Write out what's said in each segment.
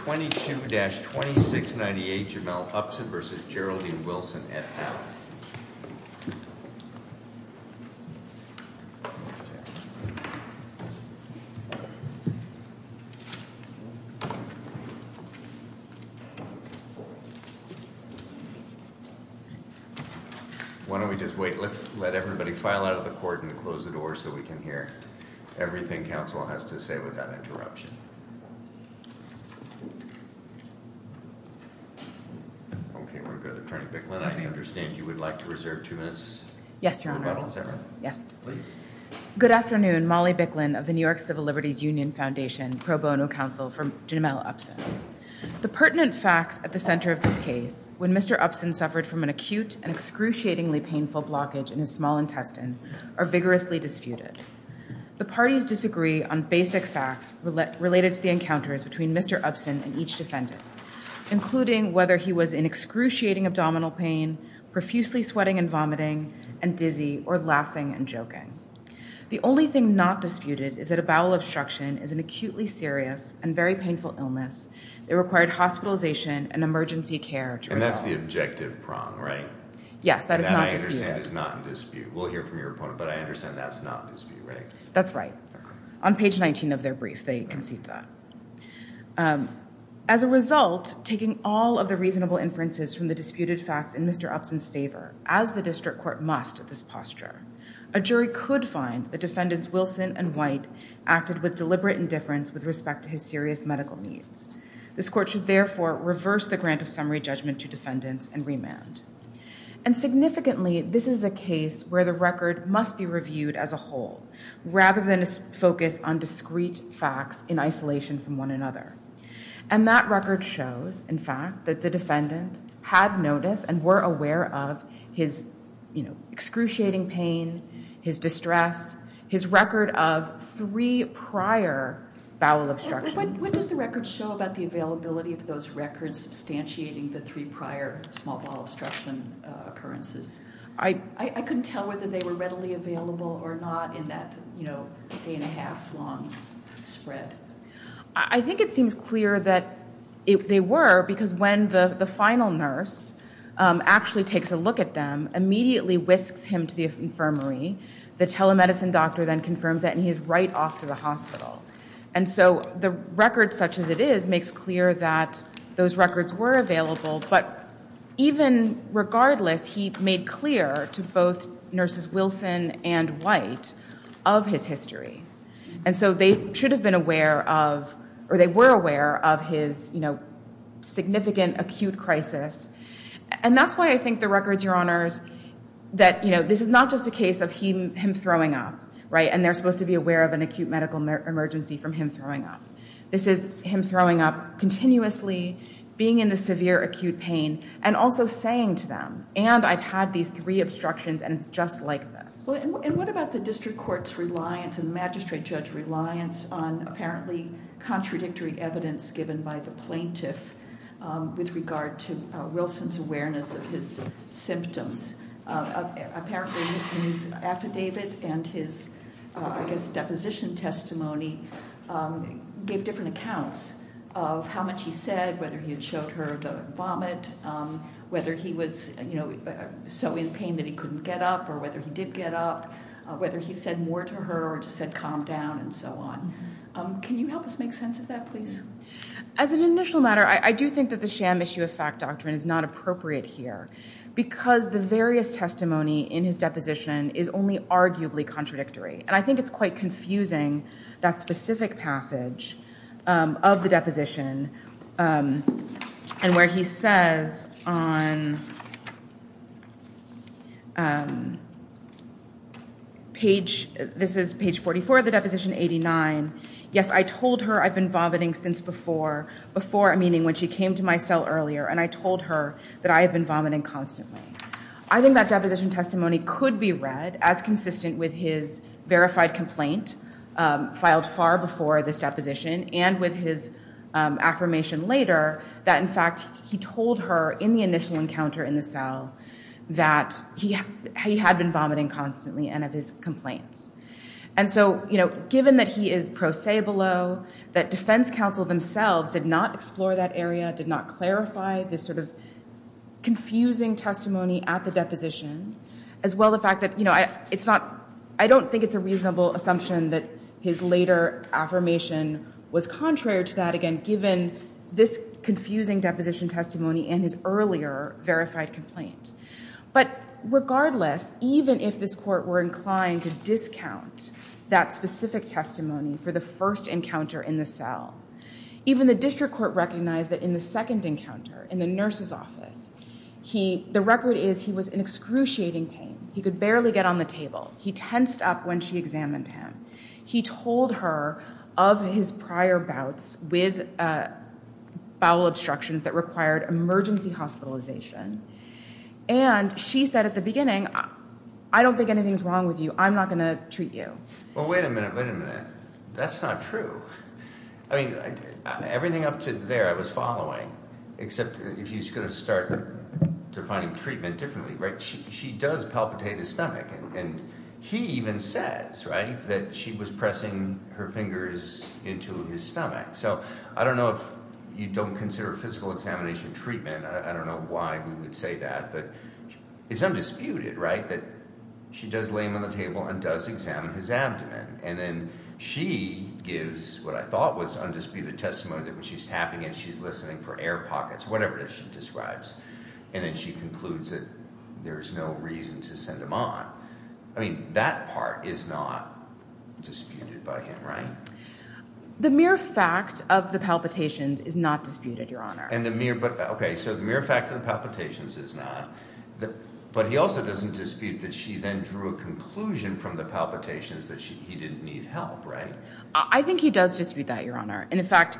22-2698 Jamelle Upson v. Geraldine Wilson, et al. Why don't we just wait. Let's let everybody file out of the court and close the door so we can hear everything counsel has to say without interruption. Okay, we're good. Attorney Bicklin, I understand you would like to reserve two minutes for rebuttal. Is that right? Yes. Please. Good afternoon. Molly Bicklin of the New York Civil Liberties Union Foundation, pro bono counsel for Jamelle Upson. The pertinent facts at the center of this case, when Mr. Upson suffered from an acute and excruciatingly painful blockage in his small intestine, are vigorously disputed. The parties disagree on basic facts related to the encounters between Mr. Upson and each defendant, including whether he was in excruciating abdominal pain, profusely sweating and vomiting, and dizzy or laughing and joking. The only thing not disputed is that a bowel obstruction is an acutely serious and very painful illness that required hospitalization and emergency care. And that's the objective prong, right? Yes, that is not disputed. And that, I understand, is not in dispute. We'll hear from your opponent, but I understand that's not in dispute, right? That's right. On page 19 of their brief, they concede that. As a result, taking all of the reasonable inferences from the disputed facts in Mr. Upson's favor, as the district court must at this posture, a jury could find that defendants Wilson and White acted with deliberate indifference with respect to his serious medical needs. This court should therefore reverse the grant of summary judgment to defendants and remand. And significantly, this is a case where the record must be reviewed as a whole, rather than a focus on discrete facts in isolation from one another. And that record shows, in fact, that the defendant had notice and were aware of his excruciating pain, his distress, his record of three prior bowel obstructions. What does the record show about the availability of those records substantiating the three prior small bowel obstruction occurrences? I couldn't tell whether they were readily available or not in that, you know, day and a half long spread. I think it seems clear that they were, because when the final nurse actually takes a look at them, immediately whisks him to the infirmary, the telemedicine doctor then confirms that and he is right off to the hospital. And so the record such as it is makes clear that those records were available, but even regardless, he made clear to both Nurses Wilson and White of his history. And so they should have been aware of, or they were aware of his, you know, significant acute crisis. And that's why I think the records, Your Honors, that, you know, this is not just a case of him throwing up, right, and they're supposed to be aware of an acute medical emergency from him throwing up. This is him throwing up continuously, being in the severe acute pain, and also saying to them, and I've had these three obstructions and it's just like this. And what about the district court's reliance and the magistrate judge's reliance on apparently contradictory evidence given by the plaintiff with regard to Wilson's awareness of his symptoms? Apparently his affidavit and his, I guess, deposition testimony gave different accounts of how much he said, whether he had showed her the vomit, whether he was, you know, so in pain that he couldn't get up or whether he did get up, whether he said more to her or just said calm down and so on. Can you help us make sense of that, please? As an initial matter, I do think that the sham issue of fact doctrine is not appropriate here because the various testimony in his deposition is only arguably contradictory. And I think it's quite confusing, that specific passage of the deposition and where he says on page, this is page 44 of the deposition, 89, yes, I told her I've been vomiting since before, before meaning when she came to my cell earlier and I told her that I have been vomiting constantly. I think that deposition testimony could be read as consistent with his verified complaint filed far before this deposition and with his affirmation later that, in fact, he told her in the initial encounter in the cell that he had been vomiting constantly and of his complaints. And so, you know, given that he is pro se below, that defense counsel themselves did not explore that area, did not clarify this sort of confusing testimony at the deposition as well the fact that, you know, it's not, I don't think it's a reasonable assumption that his later affirmation was contrary to that, again, given this confusing deposition testimony and his earlier verified complaint. But regardless, even if this court were inclined to discount that specific testimony for the first encounter in the cell, even the district court recognized that in the second encounter in the nurse's office, he, the record is he was in excruciating pain. He could barely get on the table. He tensed up when she examined him. He told her of his prior bouts with bowel obstructions that required emergency hospitalization. And she said at the beginning, I don't think anything's wrong with you. I'm not going to treat you. Well, wait a minute. Wait a minute. That's not true. I mean, everything up to there I was following, except if you're going to start defining treatment differently, right? She does palpitate his stomach. And he even says, right, that she was pressing her fingers into his stomach. So I don't know if you don't consider physical examination treatment. I don't know why we would say that. But it's undisputed, right, that she does lay him on the table and does examine his abdomen. And then she gives what I thought was undisputed testimony that when she's tapping him, she's listening for air pockets, whatever it is she describes. And then she concludes that there's no reason to send him on. I mean, that part is not disputed by him, right? The mere fact of the palpitations is not disputed, Your Honor. Okay, so the mere fact of the palpitations is not. But he also doesn't dispute that she then drew a conclusion from the palpitations that he didn't need help, right? I think he does dispute that, Your Honor. And, in fact,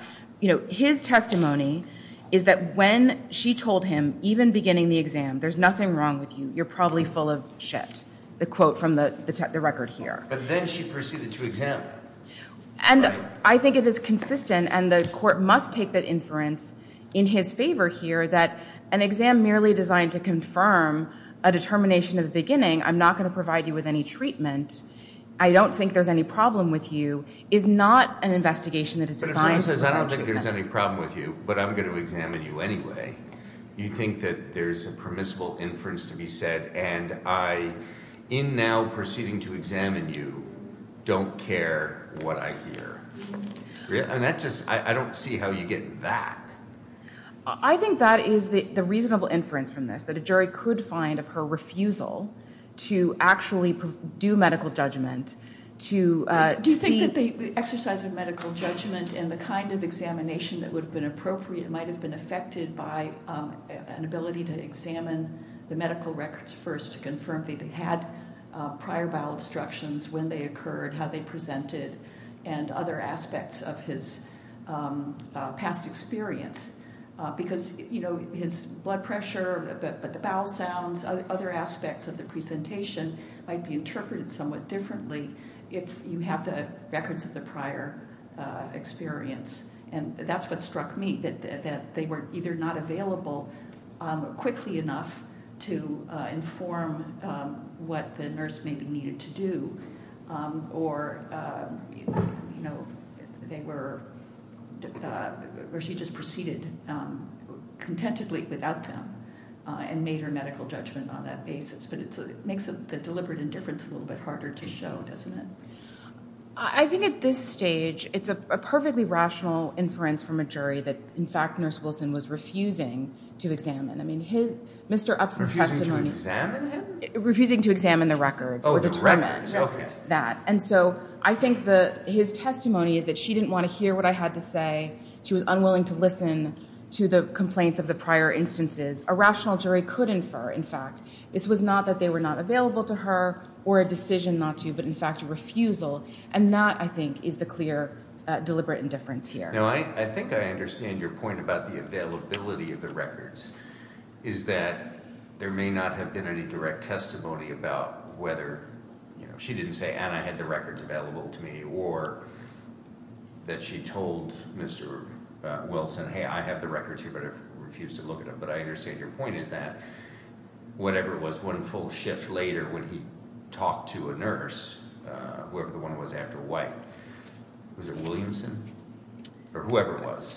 his testimony is that when she told him, even beginning the exam, there's nothing wrong with you, you're probably full of shit, the quote from the record here. But then she proceeded to examine him. And I think it is consistent, and the court must take that inference in his favor here, that an exam merely designed to confirm a determination of the beginning, I'm not going to provide you with any treatment, I don't think there's any problem with you, is not an investigation that is designed to provide treatment. But if someone says, I don't think there's any problem with you, but I'm going to examine you anyway, you think that there's a permissible inference to be said, and I, in now proceeding to examine you, don't care what I hear. And that just, I don't see how you get that. I think that is the reasonable inference from this, that a jury could find of her refusal to actually do medical judgment to see. Do you think that the exercise of medical judgment and the kind of examination that would have been appropriate might have been affected by an ability to examine the medical records first to confirm that he had prior bowel instructions, when they occurred, how they presented, and other aspects of his past experience? Because, you know, his blood pressure, the bowel sounds, other aspects of the presentation might be interpreted somewhat differently if you have the records of the prior experience. And that's what struck me, that they were either not available quickly enough to inform what the nurse maybe needed to do, or, you know, they were, or she just proceeded contentedly without them and made her medical judgment on that basis. But it makes the deliberate indifference a little bit harder to show, doesn't it? I think at this stage, it's a perfectly rational inference from a jury that, in fact, was refusing to examine. I mean, Mr. Upson's testimony... Refusing to examine him? Refusing to examine the records or determine that. And so I think his testimony is that she didn't want to hear what I had to say. She was unwilling to listen to the complaints of the prior instances. A rational jury could infer, in fact, this was not that they were not available to her or a decision not to, but, in fact, a refusal. And that, I think, is the clear deliberate indifference here. Now, I think I understand your point about the availability of the records, is that there may not have been any direct testimony about whether, you know, she didn't say, and I had the records available to me, or that she told Mr. Wilson, hey, I have the records here, but I refuse to look at them. But I understand your point is that whatever was one full shift later when he talked to a nurse, whoever the one was after White, was it Williamson? Or whoever it was.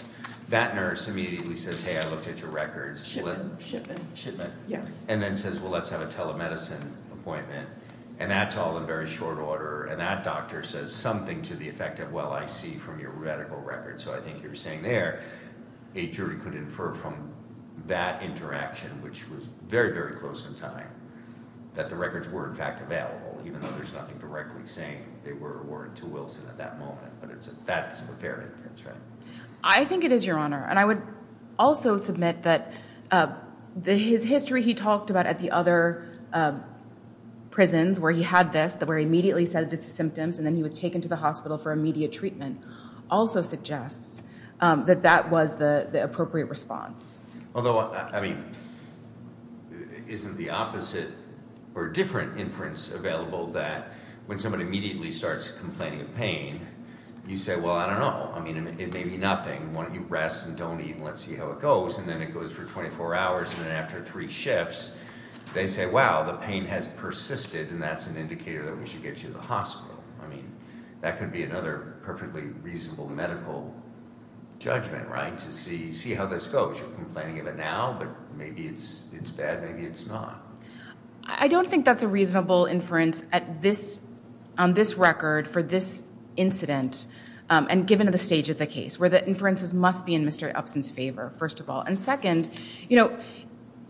That nurse immediately says, hey, I looked at your records. Shipment. And then says, well, let's have a telemedicine appointment. And that's all in very short order. And that doctor says something to the effect of, well, I see from your medical records. So I think you're saying there a jury could infer from that interaction, which was very, very close in time, that the records were, in fact, available, even though there's nothing directly saying they were or weren't to Wilson at that moment. But that's a fair inference, right? I think it is, Your Honor. And I would also submit that his history he talked about at the other prisons where he had this, where he immediately said the symptoms, and then he was taken to the hospital for immediate treatment, also suggests that that was the appropriate response. Although, I mean, isn't the opposite or different inference available that when somebody immediately starts complaining of pain, you say, well, I don't know. I mean, it may be nothing. Why don't you rest and don't eat and let's see how it goes. And then it goes for 24 hours. And then after three shifts, they say, wow, the pain has persisted, and that's an indicator that we should get you to the hospital. I mean, that could be another perfectly reasonable medical judgment, right, to see how this goes. You're complaining of it now, but maybe it's bad, maybe it's not. I don't think that's a reasonable inference on this record for this incident, and given the stage of the case, where the inferences must be in Mr. Upson's favor, first of all. And second, you know,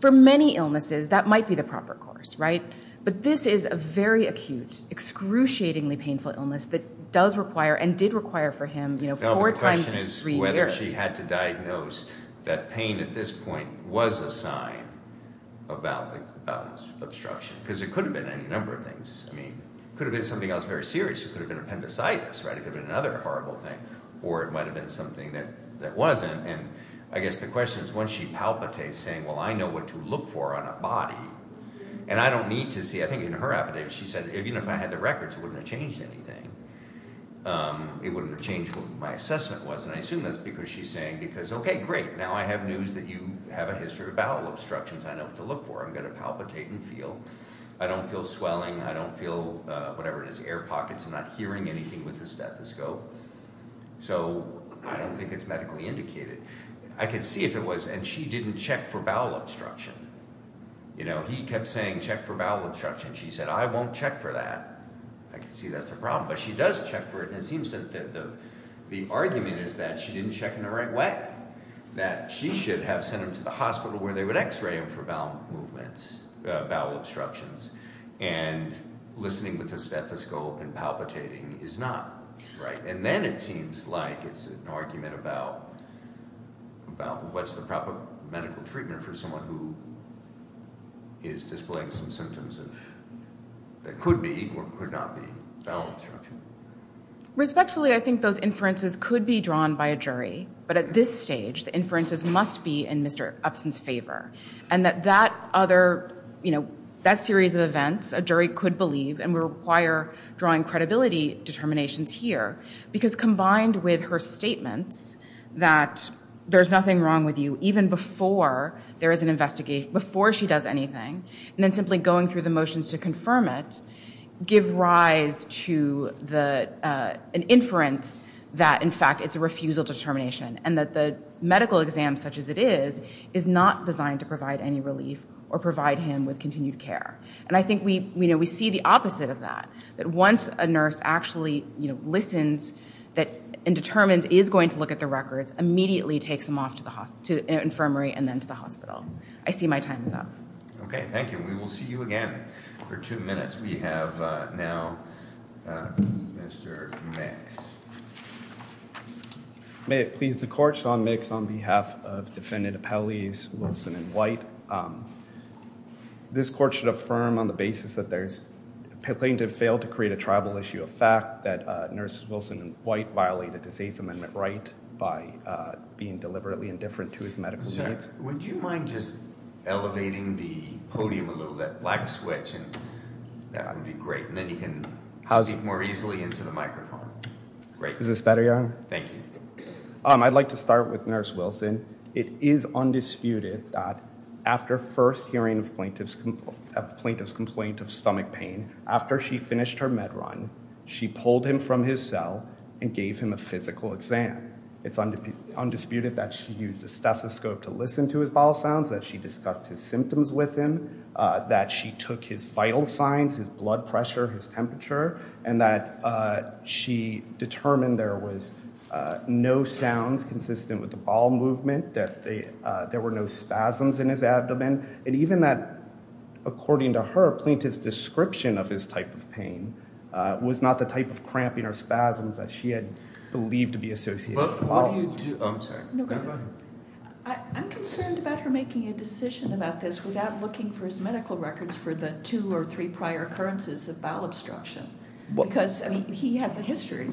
for many illnesses, that might be the proper course, right? But this is a very acute, excruciatingly painful illness that does require and did require for him four times in three years. She had to diagnose that pain at this point was a sign of bowel obstruction, because it could have been any number of things. I mean, it could have been something else very serious. It could have been appendicitis, right? It could have been another horrible thing, or it might have been something that wasn't. And I guess the question is, once she palpitates saying, well, I know what to look for on a body, and I don't need to see, I think in her affidavit she said, even if I had the records, it wouldn't have changed anything. It wouldn't have changed what my assessment was. And I assume that's because she's saying, because, okay, great, now I have news that you have a history of bowel obstructions. I know what to look for. I'm going to palpitate and feel. I don't feel swelling. I don't feel whatever it is, air pockets. I'm not hearing anything with the stethoscope. So I don't think it's medically indicated. I can see if it was, and she didn't check for bowel obstruction. You know, he kept saying, check for bowel obstruction. She said, I won't check for that. I can see that's a problem, but she does check for it. And it seems that the argument is that she didn't check in the right way, that she should have sent him to the hospital where they would X-ray him for bowel movements, bowel obstructions, and listening with the stethoscope and palpitating is not right. And then it seems like it's an argument about what's the proper medical treatment for someone who is displaying some symptoms that could be or could not be bowel obstruction. Respectfully, I think those inferences could be drawn by a jury. But at this stage, the inferences must be in Mr. Upson's favor and that that series of events a jury could believe and would require drawing credibility determinations here because combined with her statements that there's nothing wrong with you even before there is an investigation, before she does anything, and then simply going through the motions to confirm it, give rise to an inference that, in fact, it's a refusal determination and that the medical exam, such as it is, is not designed to provide any relief or provide him with continued care. And I think we see the opposite of that, that once a nurse actually listens and determines he is going to look at the records, immediately takes him off to the infirmary and then to the hospital. I see my time is up. Okay, thank you. We will see you again for two minutes. We have now Mr. Mix. May it please the Court. Sean Mix on behalf of Defendant Appellees Wilson and White. This Court should affirm on the basis that there's a plaintiff failed to create a tribal issue of fact, that Nurses Wilson and White violated his Eighth Amendment right by being deliberately indifferent to his medical rights. Would you mind just elevating the podium a little, that black switch and that would be great, and then you can speak more easily into the microphone. Great. Is this better, Your Honor? Thank you. I'd like to start with Nurse Wilson. It is undisputed that after first hearing of plaintiff's complaint of stomach pain, after she finished her med run, she pulled him from his cell and gave him a physical exam. It's undisputed that she used a stethoscope to listen to his bowel sounds, that she discussed his symptoms with him, that she took his vital signs, his blood pressure, his temperature, and that she determined there was no sounds consistent with the bowel movement, that there were no spasms in his abdomen, and even that, according to her, plaintiff's description of his type of pain was not the type of cramping or spasms that she had believed to be associated with the bowel. What do you do? I'm sorry. Go ahead. I'm concerned about her making a decision about this without looking for his medical records for the two or three prior occurrences of bowel obstruction. Because, I mean, he has a history,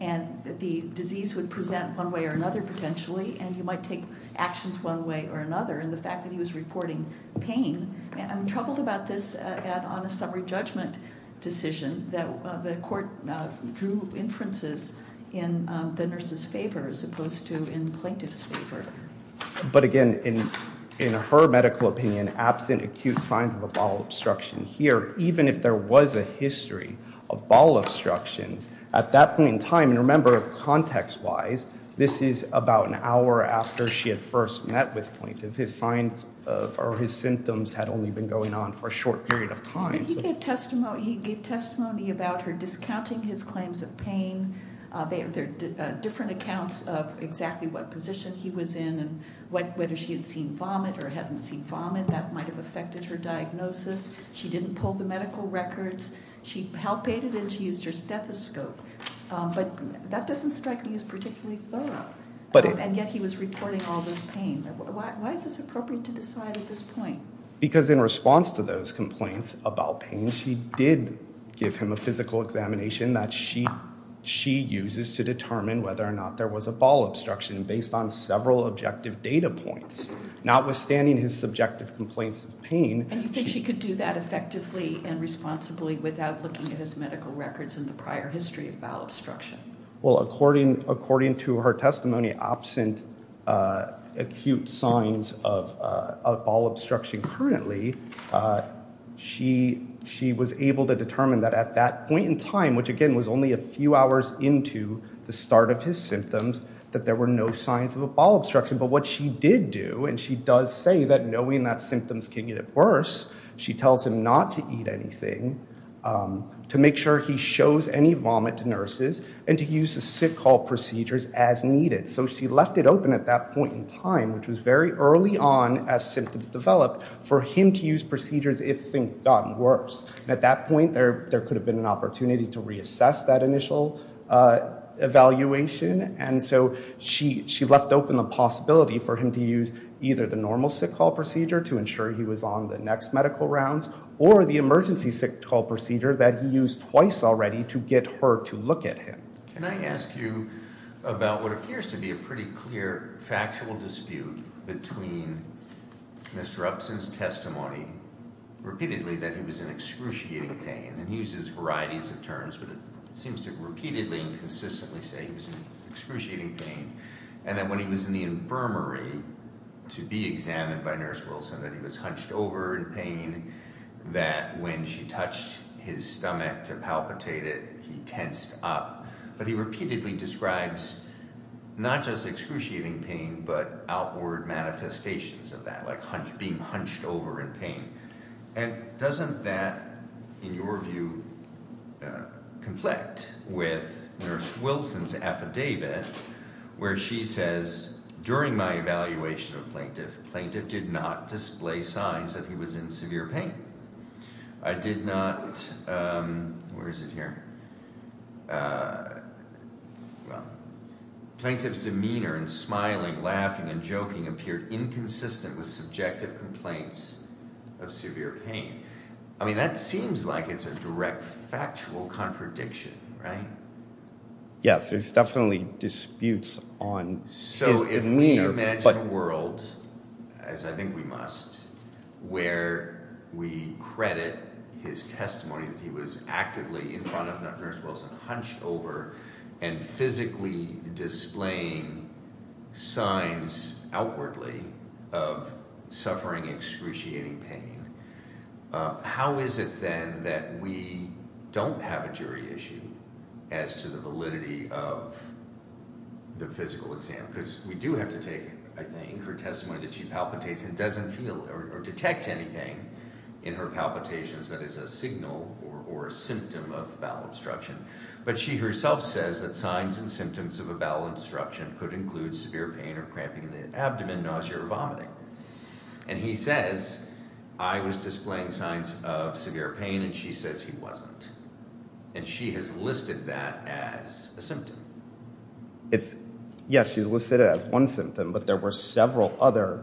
and the disease would present one way or another potentially, and he might take actions one way or another. And the fact that he was reporting pain, I'm troubled about this on a summary judgment decision that the court drew inferences in the nurse's favor as opposed to in plaintiff's favor. But, again, in her medical opinion, absent acute signs of a bowel obstruction here, even if there was a history of bowel obstructions at that point in time, and remember, context-wise, this is about an hour after she had first met with plaintiff. His signs or his symptoms had only been going on for a short period of time. He gave testimony about her discounting his claims of pain. There are different accounts of exactly what position he was in and whether she had seen vomit or hadn't seen vomit. That might have affected her diagnosis. She didn't pull the medical records. She palpated and she used her stethoscope. But that doesn't strike me as particularly thorough. And yet he was reporting all this pain. Why is this appropriate to decide at this point? Because in response to those complaints about pain, she did give him a physical examination that she uses to determine whether or not there was a bowel obstruction based on several objective data points. Notwithstanding his subjective complaints of pain. And you think she could do that effectively and responsibly without looking at his medical records and the prior history of bowel obstruction? Well, according to her testimony, absent acute signs of bowel obstruction currently, she was able to determine that at that point in time, which again was only a few hours into the start of his symptoms, that there were no signs of a bowel obstruction. But what she did do, and she does say that knowing that symptoms can get worse, she tells him not to eat anything, to make sure he shows any vomit to nurses, and to use the sick hall procedures as needed. So she left it open at that point in time, which was very early on as symptoms developed, for him to use procedures if things got worse. At that point, there could have been an opportunity to reassess that initial evaluation. And so she left open the possibility for him to use either the normal sick hall procedure to ensure he was on the next medical rounds, or the emergency sick hall procedure that he used twice already to get her to look at him. Can I ask you about what appears to be a pretty clear factual dispute between Mr. Upson's testimony repeatedly that he was in excruciating pain, and he uses varieties of terms, but it seems to repeatedly and consistently say he was in excruciating pain, and that when he was in the infirmary to be examined by Nurse Wilson, that he was hunched over in pain, that when she touched his stomach to palpitate it, he tensed up. But he repeatedly describes not just excruciating pain, but outward manifestations of that, like being hunched over in pain. And doesn't that, in your view, conflict with Nurse Wilson's affidavit, where she says, during my evaluation of the plaintiff, the plaintiff did not display signs that he was in severe pain. I did not, where is it here, well, Plaintiff's demeanor in smiling, laughing, and joking appeared inconsistent with subjective complaints of severe pain. I mean, that seems like it's a direct factual contradiction, right? Yes, there's definitely disputes on his demeanor. So if we imagine a world, as I think we must, where we credit his testimony that he was actively in front of Nurse Wilson, hunched over and physically displaying signs outwardly of suffering excruciating pain, how is it then that we don't have a jury issue as to the validity of the physical exam? Because we do have to take, I think, her testimony that she palpitates and doesn't feel or detect anything in her palpitations that is a signal or a symptom of bowel obstruction. But she herself says that signs and symptoms of a bowel obstruction could include severe pain or cramping in the abdomen, nausea, or vomiting. And he says, I was displaying signs of severe pain, and she says he wasn't. And she has listed that as a symptom. Yes, she's listed it as one symptom, but there were several other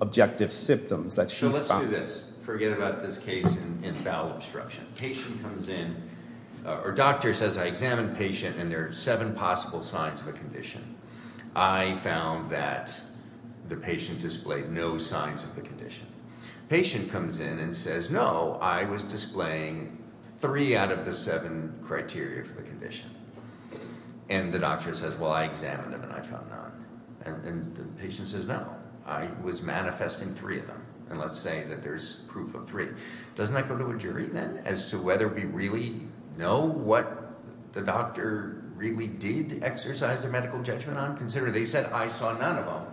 objective symptoms that she found. So let's do this. Forget about this case in bowel obstruction. Patient comes in, or doctor says, I examined the patient, and there are seven possible signs of a condition. I found that the patient displayed no signs of the condition. Patient comes in and says, no, I was displaying three out of the seven criteria for the condition. And the doctor says, well, I examined them, and I found none. And the patient says, no, I was manifesting three of them. And let's say that there's proof of three. Doesn't that go to a jury then as to whether we really know what the doctor really did exercise their medical judgment on? Consider they said, I saw none of them.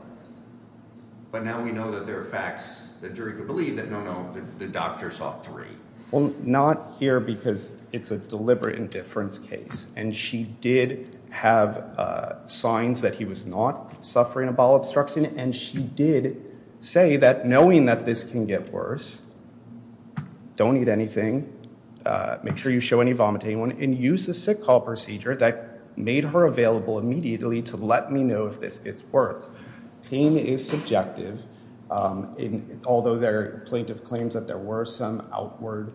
But now we know that there are facts that jury could believe that, no, no, the doctor saw three. Well, not here because it's a deliberate indifference case. And she did have signs that he was not suffering a bowel obstruction, and she did say that knowing that this can get worse, don't eat anything, make sure you show any vomiting, and use the sick call procedure that made her available immediately to let me know if this gets worse. Pain is subjective. Although the plaintiff claims that there were some outward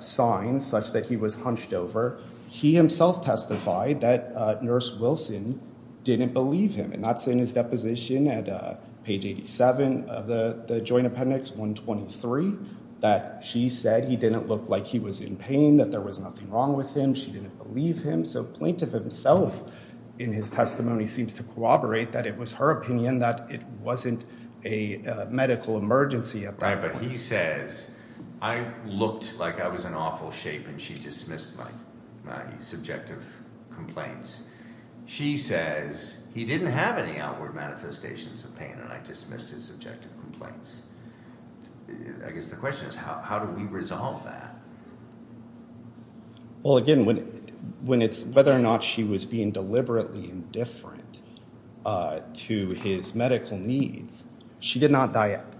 signs such that he was hunched over, he himself testified that Nurse Wilson didn't believe him. And that's in his deposition at page 87 of the Joint Appendix 123, that she said he didn't look like he was in pain, that there was nothing wrong with him. She didn't believe him. So plaintiff himself in his testimony seems to corroborate that it was her opinion that it wasn't a medical emergency at that point. Right, but he says, I looked like I was in awful shape, and she dismissed my subjective complaints. She says, he didn't have any outward manifestations of pain, and I dismissed his subjective complaints. I guess the question is, how do we resolve that? Well, again, whether or not she was being deliberately indifferent to his medical needs, she did not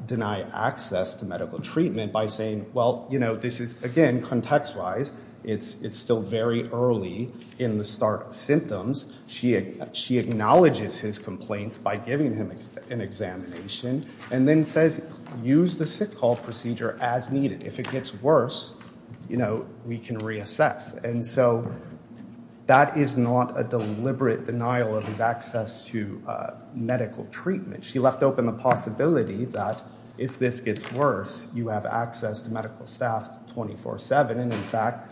deny access to medical treatment by saying, well, you know, this is, again, context-wise, it's still very early in the start of symptoms. She acknowledges his complaints by giving him an examination and then says, use the sick call procedure as needed. If it gets worse, you know, we can reassess. And so that is not a deliberate denial of his access to medical treatment. She left open the possibility that if this gets worse, you have access to medical staff 24-7, and, in fact,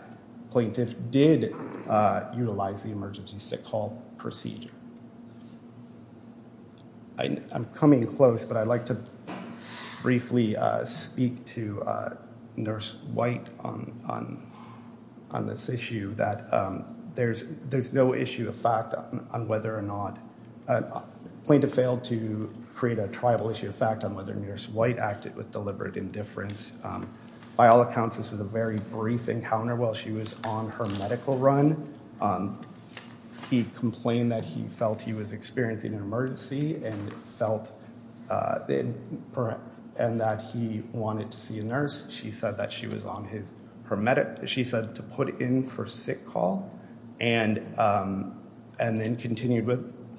plaintiff did utilize the emergency sick call procedure. I'm coming close, but I'd like to briefly speak to Nurse White on this issue, that there's no issue of fact on whether or not plaintiff failed to create a tribal issue of fact on whether Nurse White acted with deliberate indifference. By all accounts, this was a very brief encounter while she was on her medical run. He complained that he felt he was experiencing an emergency and that he wanted to see a nurse. She said that she was on her medical, she said to put in for sick call and then continued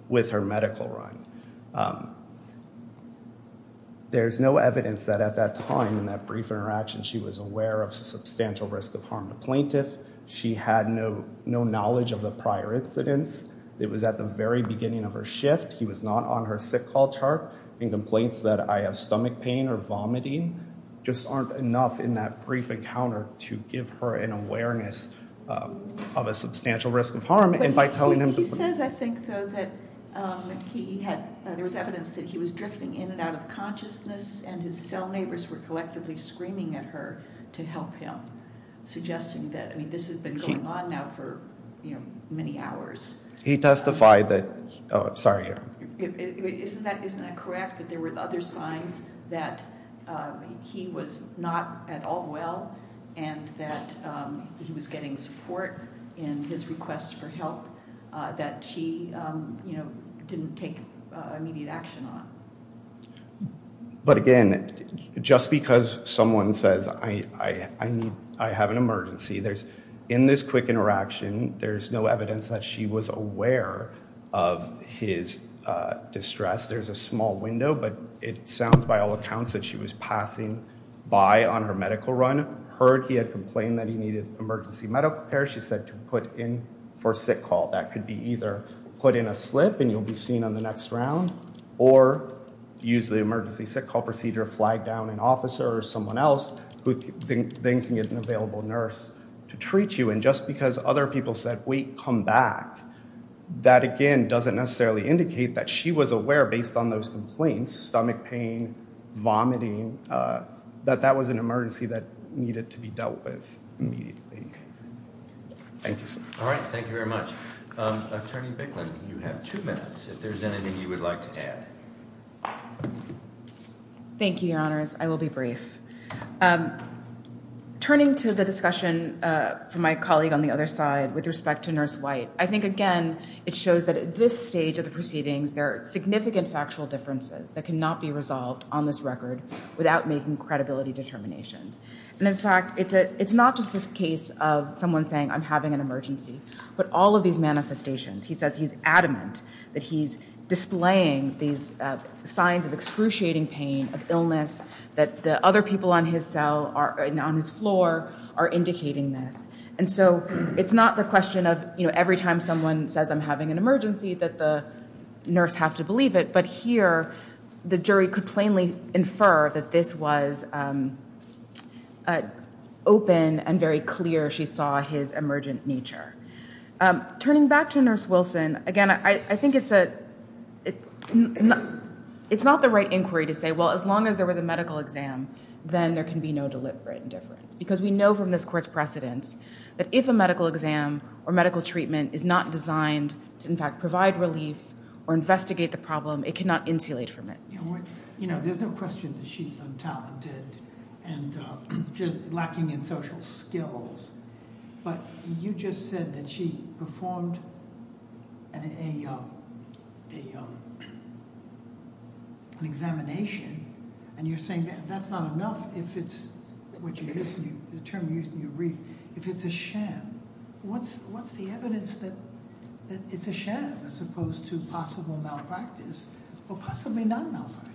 with her medical run. There's no evidence that at that time, in that brief interaction, she was aware of substantial risk of harm to plaintiff. She had no knowledge of the prior incidents. It was at the very beginning of her shift. He was not on her sick call chart. And complaints that I have stomach pain or vomiting just aren't enough in that brief encounter to give her an awareness of a substantial risk of harm. He says, I think, though, that there was evidence that he was drifting in and out of consciousness and his cell neighbors were collectively screaming at her to help him, suggesting that, I mean, this has been going on now for, you know, many hours. He testified that, oh, sorry. Isn't that correct, that there were other signs that he was not at all well and that he was getting support in his request for help that she, you know, didn't take immediate action on? But again, just because someone says, I have an emergency, in this quick interaction, there's no evidence that she was aware of his distress. There's a small window, but it sounds by all accounts that she was passing by on her medical run. Heard he had complained that he needed emergency medical care. She said to put in for sick call. That could be either put in a slip and you'll be seen on the next round or use the emergency sick call procedure, flag down an officer or someone else who then can get an available nurse to treat you. And just because other people said, wait, come back, that, again, doesn't necessarily indicate that she was aware, based on those complaints, stomach pain, vomiting, that that was an emergency that needed to be dealt with immediately. Thank you, sir. All right. Thank you very much. Attorney Bicklin, you have two minutes, if there's anything you would like to add. Thank you, Your Honors. I will be brief. Turning to the discussion from my colleague on the other side with respect to Nurse White, I think, again, it shows that at this stage of the proceedings, there are significant factual differences that cannot be resolved on this record without making credibility determinations. And, in fact, it's not just this case of someone saying, I'm having an emergency, but all of these manifestations. He says he's adamant that he's displaying these signs of excruciating pain, of illness, that the other people on his cell or on his floor are indicating this. And so it's not the question of, you know, every time someone says, I'm having an emergency, that the nurse have to believe it. But here, the jury could plainly infer that this was open and very clear she saw his emergent nature. Turning back to Nurse Wilson, again, I think it's not the right inquiry to say, well, as long as there was a medical exam, then there can be no deliberate indifference. Because we know from this court's precedents that if a medical exam or medical treatment is not designed to, in fact, provide relief or investigate the problem, it cannot insulate from it. You know, there's no question that she's untalented and lacking in social skills, but you just said that she performed an examination, and you're saying that that's not enough if it's what you used, the term you used in your brief, if it's a sham. What's the evidence that it's a sham as opposed to possible malpractice or possibly non-malpractice?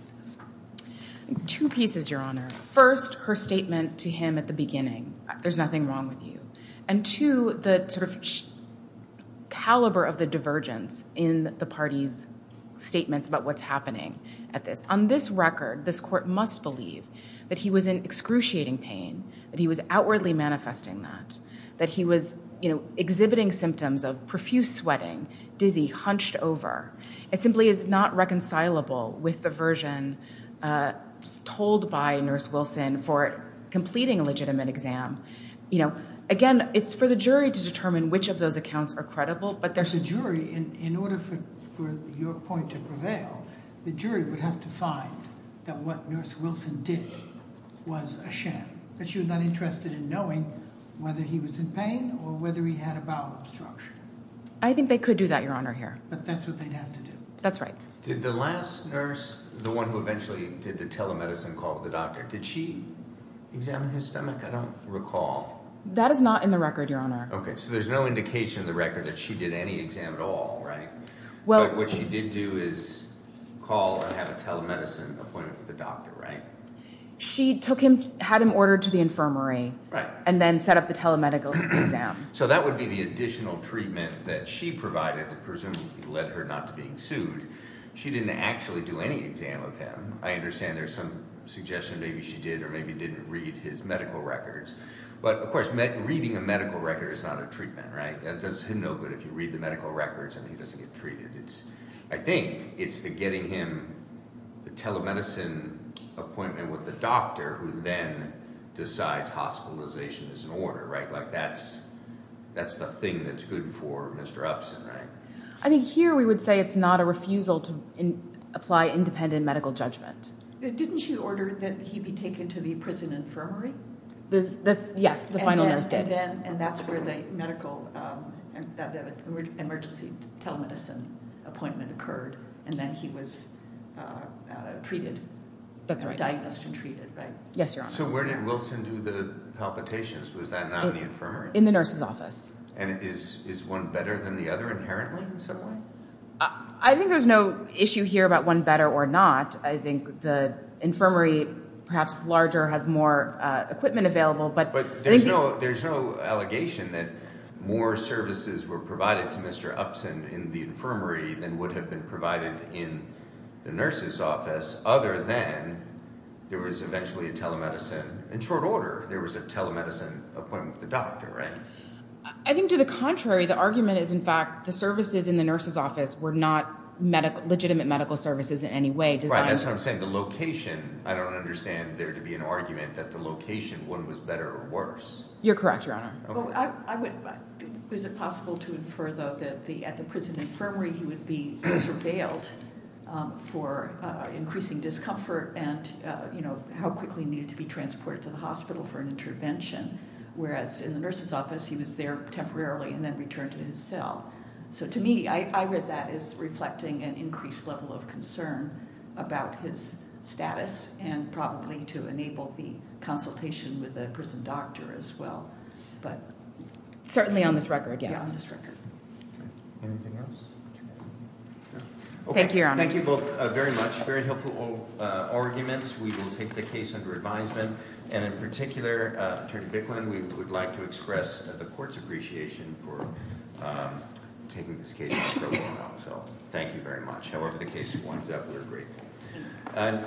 Two pieces, Your Honor. First, her statement to him at the beginning, there's nothing wrong with you. And two, the sort of caliber of the divergence in the party's statements about what's happening at this. On this record, this court must believe that he was in excruciating pain, that he was outwardly manifesting that, that he was exhibiting symptoms of profuse sweating, dizzy, hunched over. It simply is not reconcilable with the version told by Nurse Wilson for completing a legitimate exam. Again, it's for the jury to determine which of those accounts are credible, but there's... In order for your point to prevail, the jury would have to find that what Nurse Wilson did was a sham, that she was not interested in knowing whether he was in pain or whether he had a bowel obstruction. I think they could do that, Your Honor, here. But that's what they'd have to do. That's right. Did the last nurse, the one who eventually did the telemedicine call with the doctor, did she examine his stomach? I don't recall. That is not in the record, Your Honor. Okay, so there's no indication in the record that she did any exam at all, right? But what she did do is call and have a telemedicine appointment with the doctor, right? She took him, had him ordered to the infirmary and then set up the telemedical exam. So that would be the additional treatment that she provided that presumably led her not to being sued. She didn't actually do any exam of him. I understand there's some suggestion maybe she did or maybe didn't read his medical records. But, of course, reading a medical record is not a treatment, right? It does him no good if you read the medical records and he doesn't get treated. I think it's the getting him the telemedicine appointment with the doctor who then decides hospitalization is in order, right? Like that's the thing that's good for Mr. Upson, right? I think here we would say it's not a refusal to apply independent medical judgment. Didn't she order that he be taken to the prison infirmary? Yes, the final nurse did. And that's where the medical emergency telemedicine appointment occurred and then he was treated. That's right. Diagnosed and treated, right? Yes, Your Honor. So where did Wilson do the palpitations? Was that in the infirmary? In the nurse's office. And is one better than the other inherently in some way? I think there's no issue here about one better or not. I think the infirmary perhaps is larger, has more equipment available. But there's no allegation that more services were provided to Mr. Upson in the infirmary than would have been provided in the nurse's office, other than there was eventually a telemedicine, in short order, there was a telemedicine appointment with the doctor, right? I think to the contrary. The argument is, in fact, the services in the nurse's office were not legitimate medical services in any way. That's what I'm saying. The location, I don't understand there to be an argument that the location, one was better or worse. You're correct, Your Honor. Is it possible to infer, though, that at the prison infirmary he would be surveilled for increasing discomfort and how quickly he needed to be transported to the hospital for an intervention, whereas in the nurse's office he was there temporarily and then returned to his cell? So to me, I read that as reflecting an increased level of concern about his status and probably to enable the consultation with the prison doctor as well. Certainly on this record, yes. Yeah, on this record. Anything else? Thank you, Your Honor. Thank you both very much. Very helpful arguments. We will take the case under advisement. And in particular, Attorney Bicklin, we would like to express the court's appreciation for taking this case. So thank you very much. However the case winds up, we'll agree.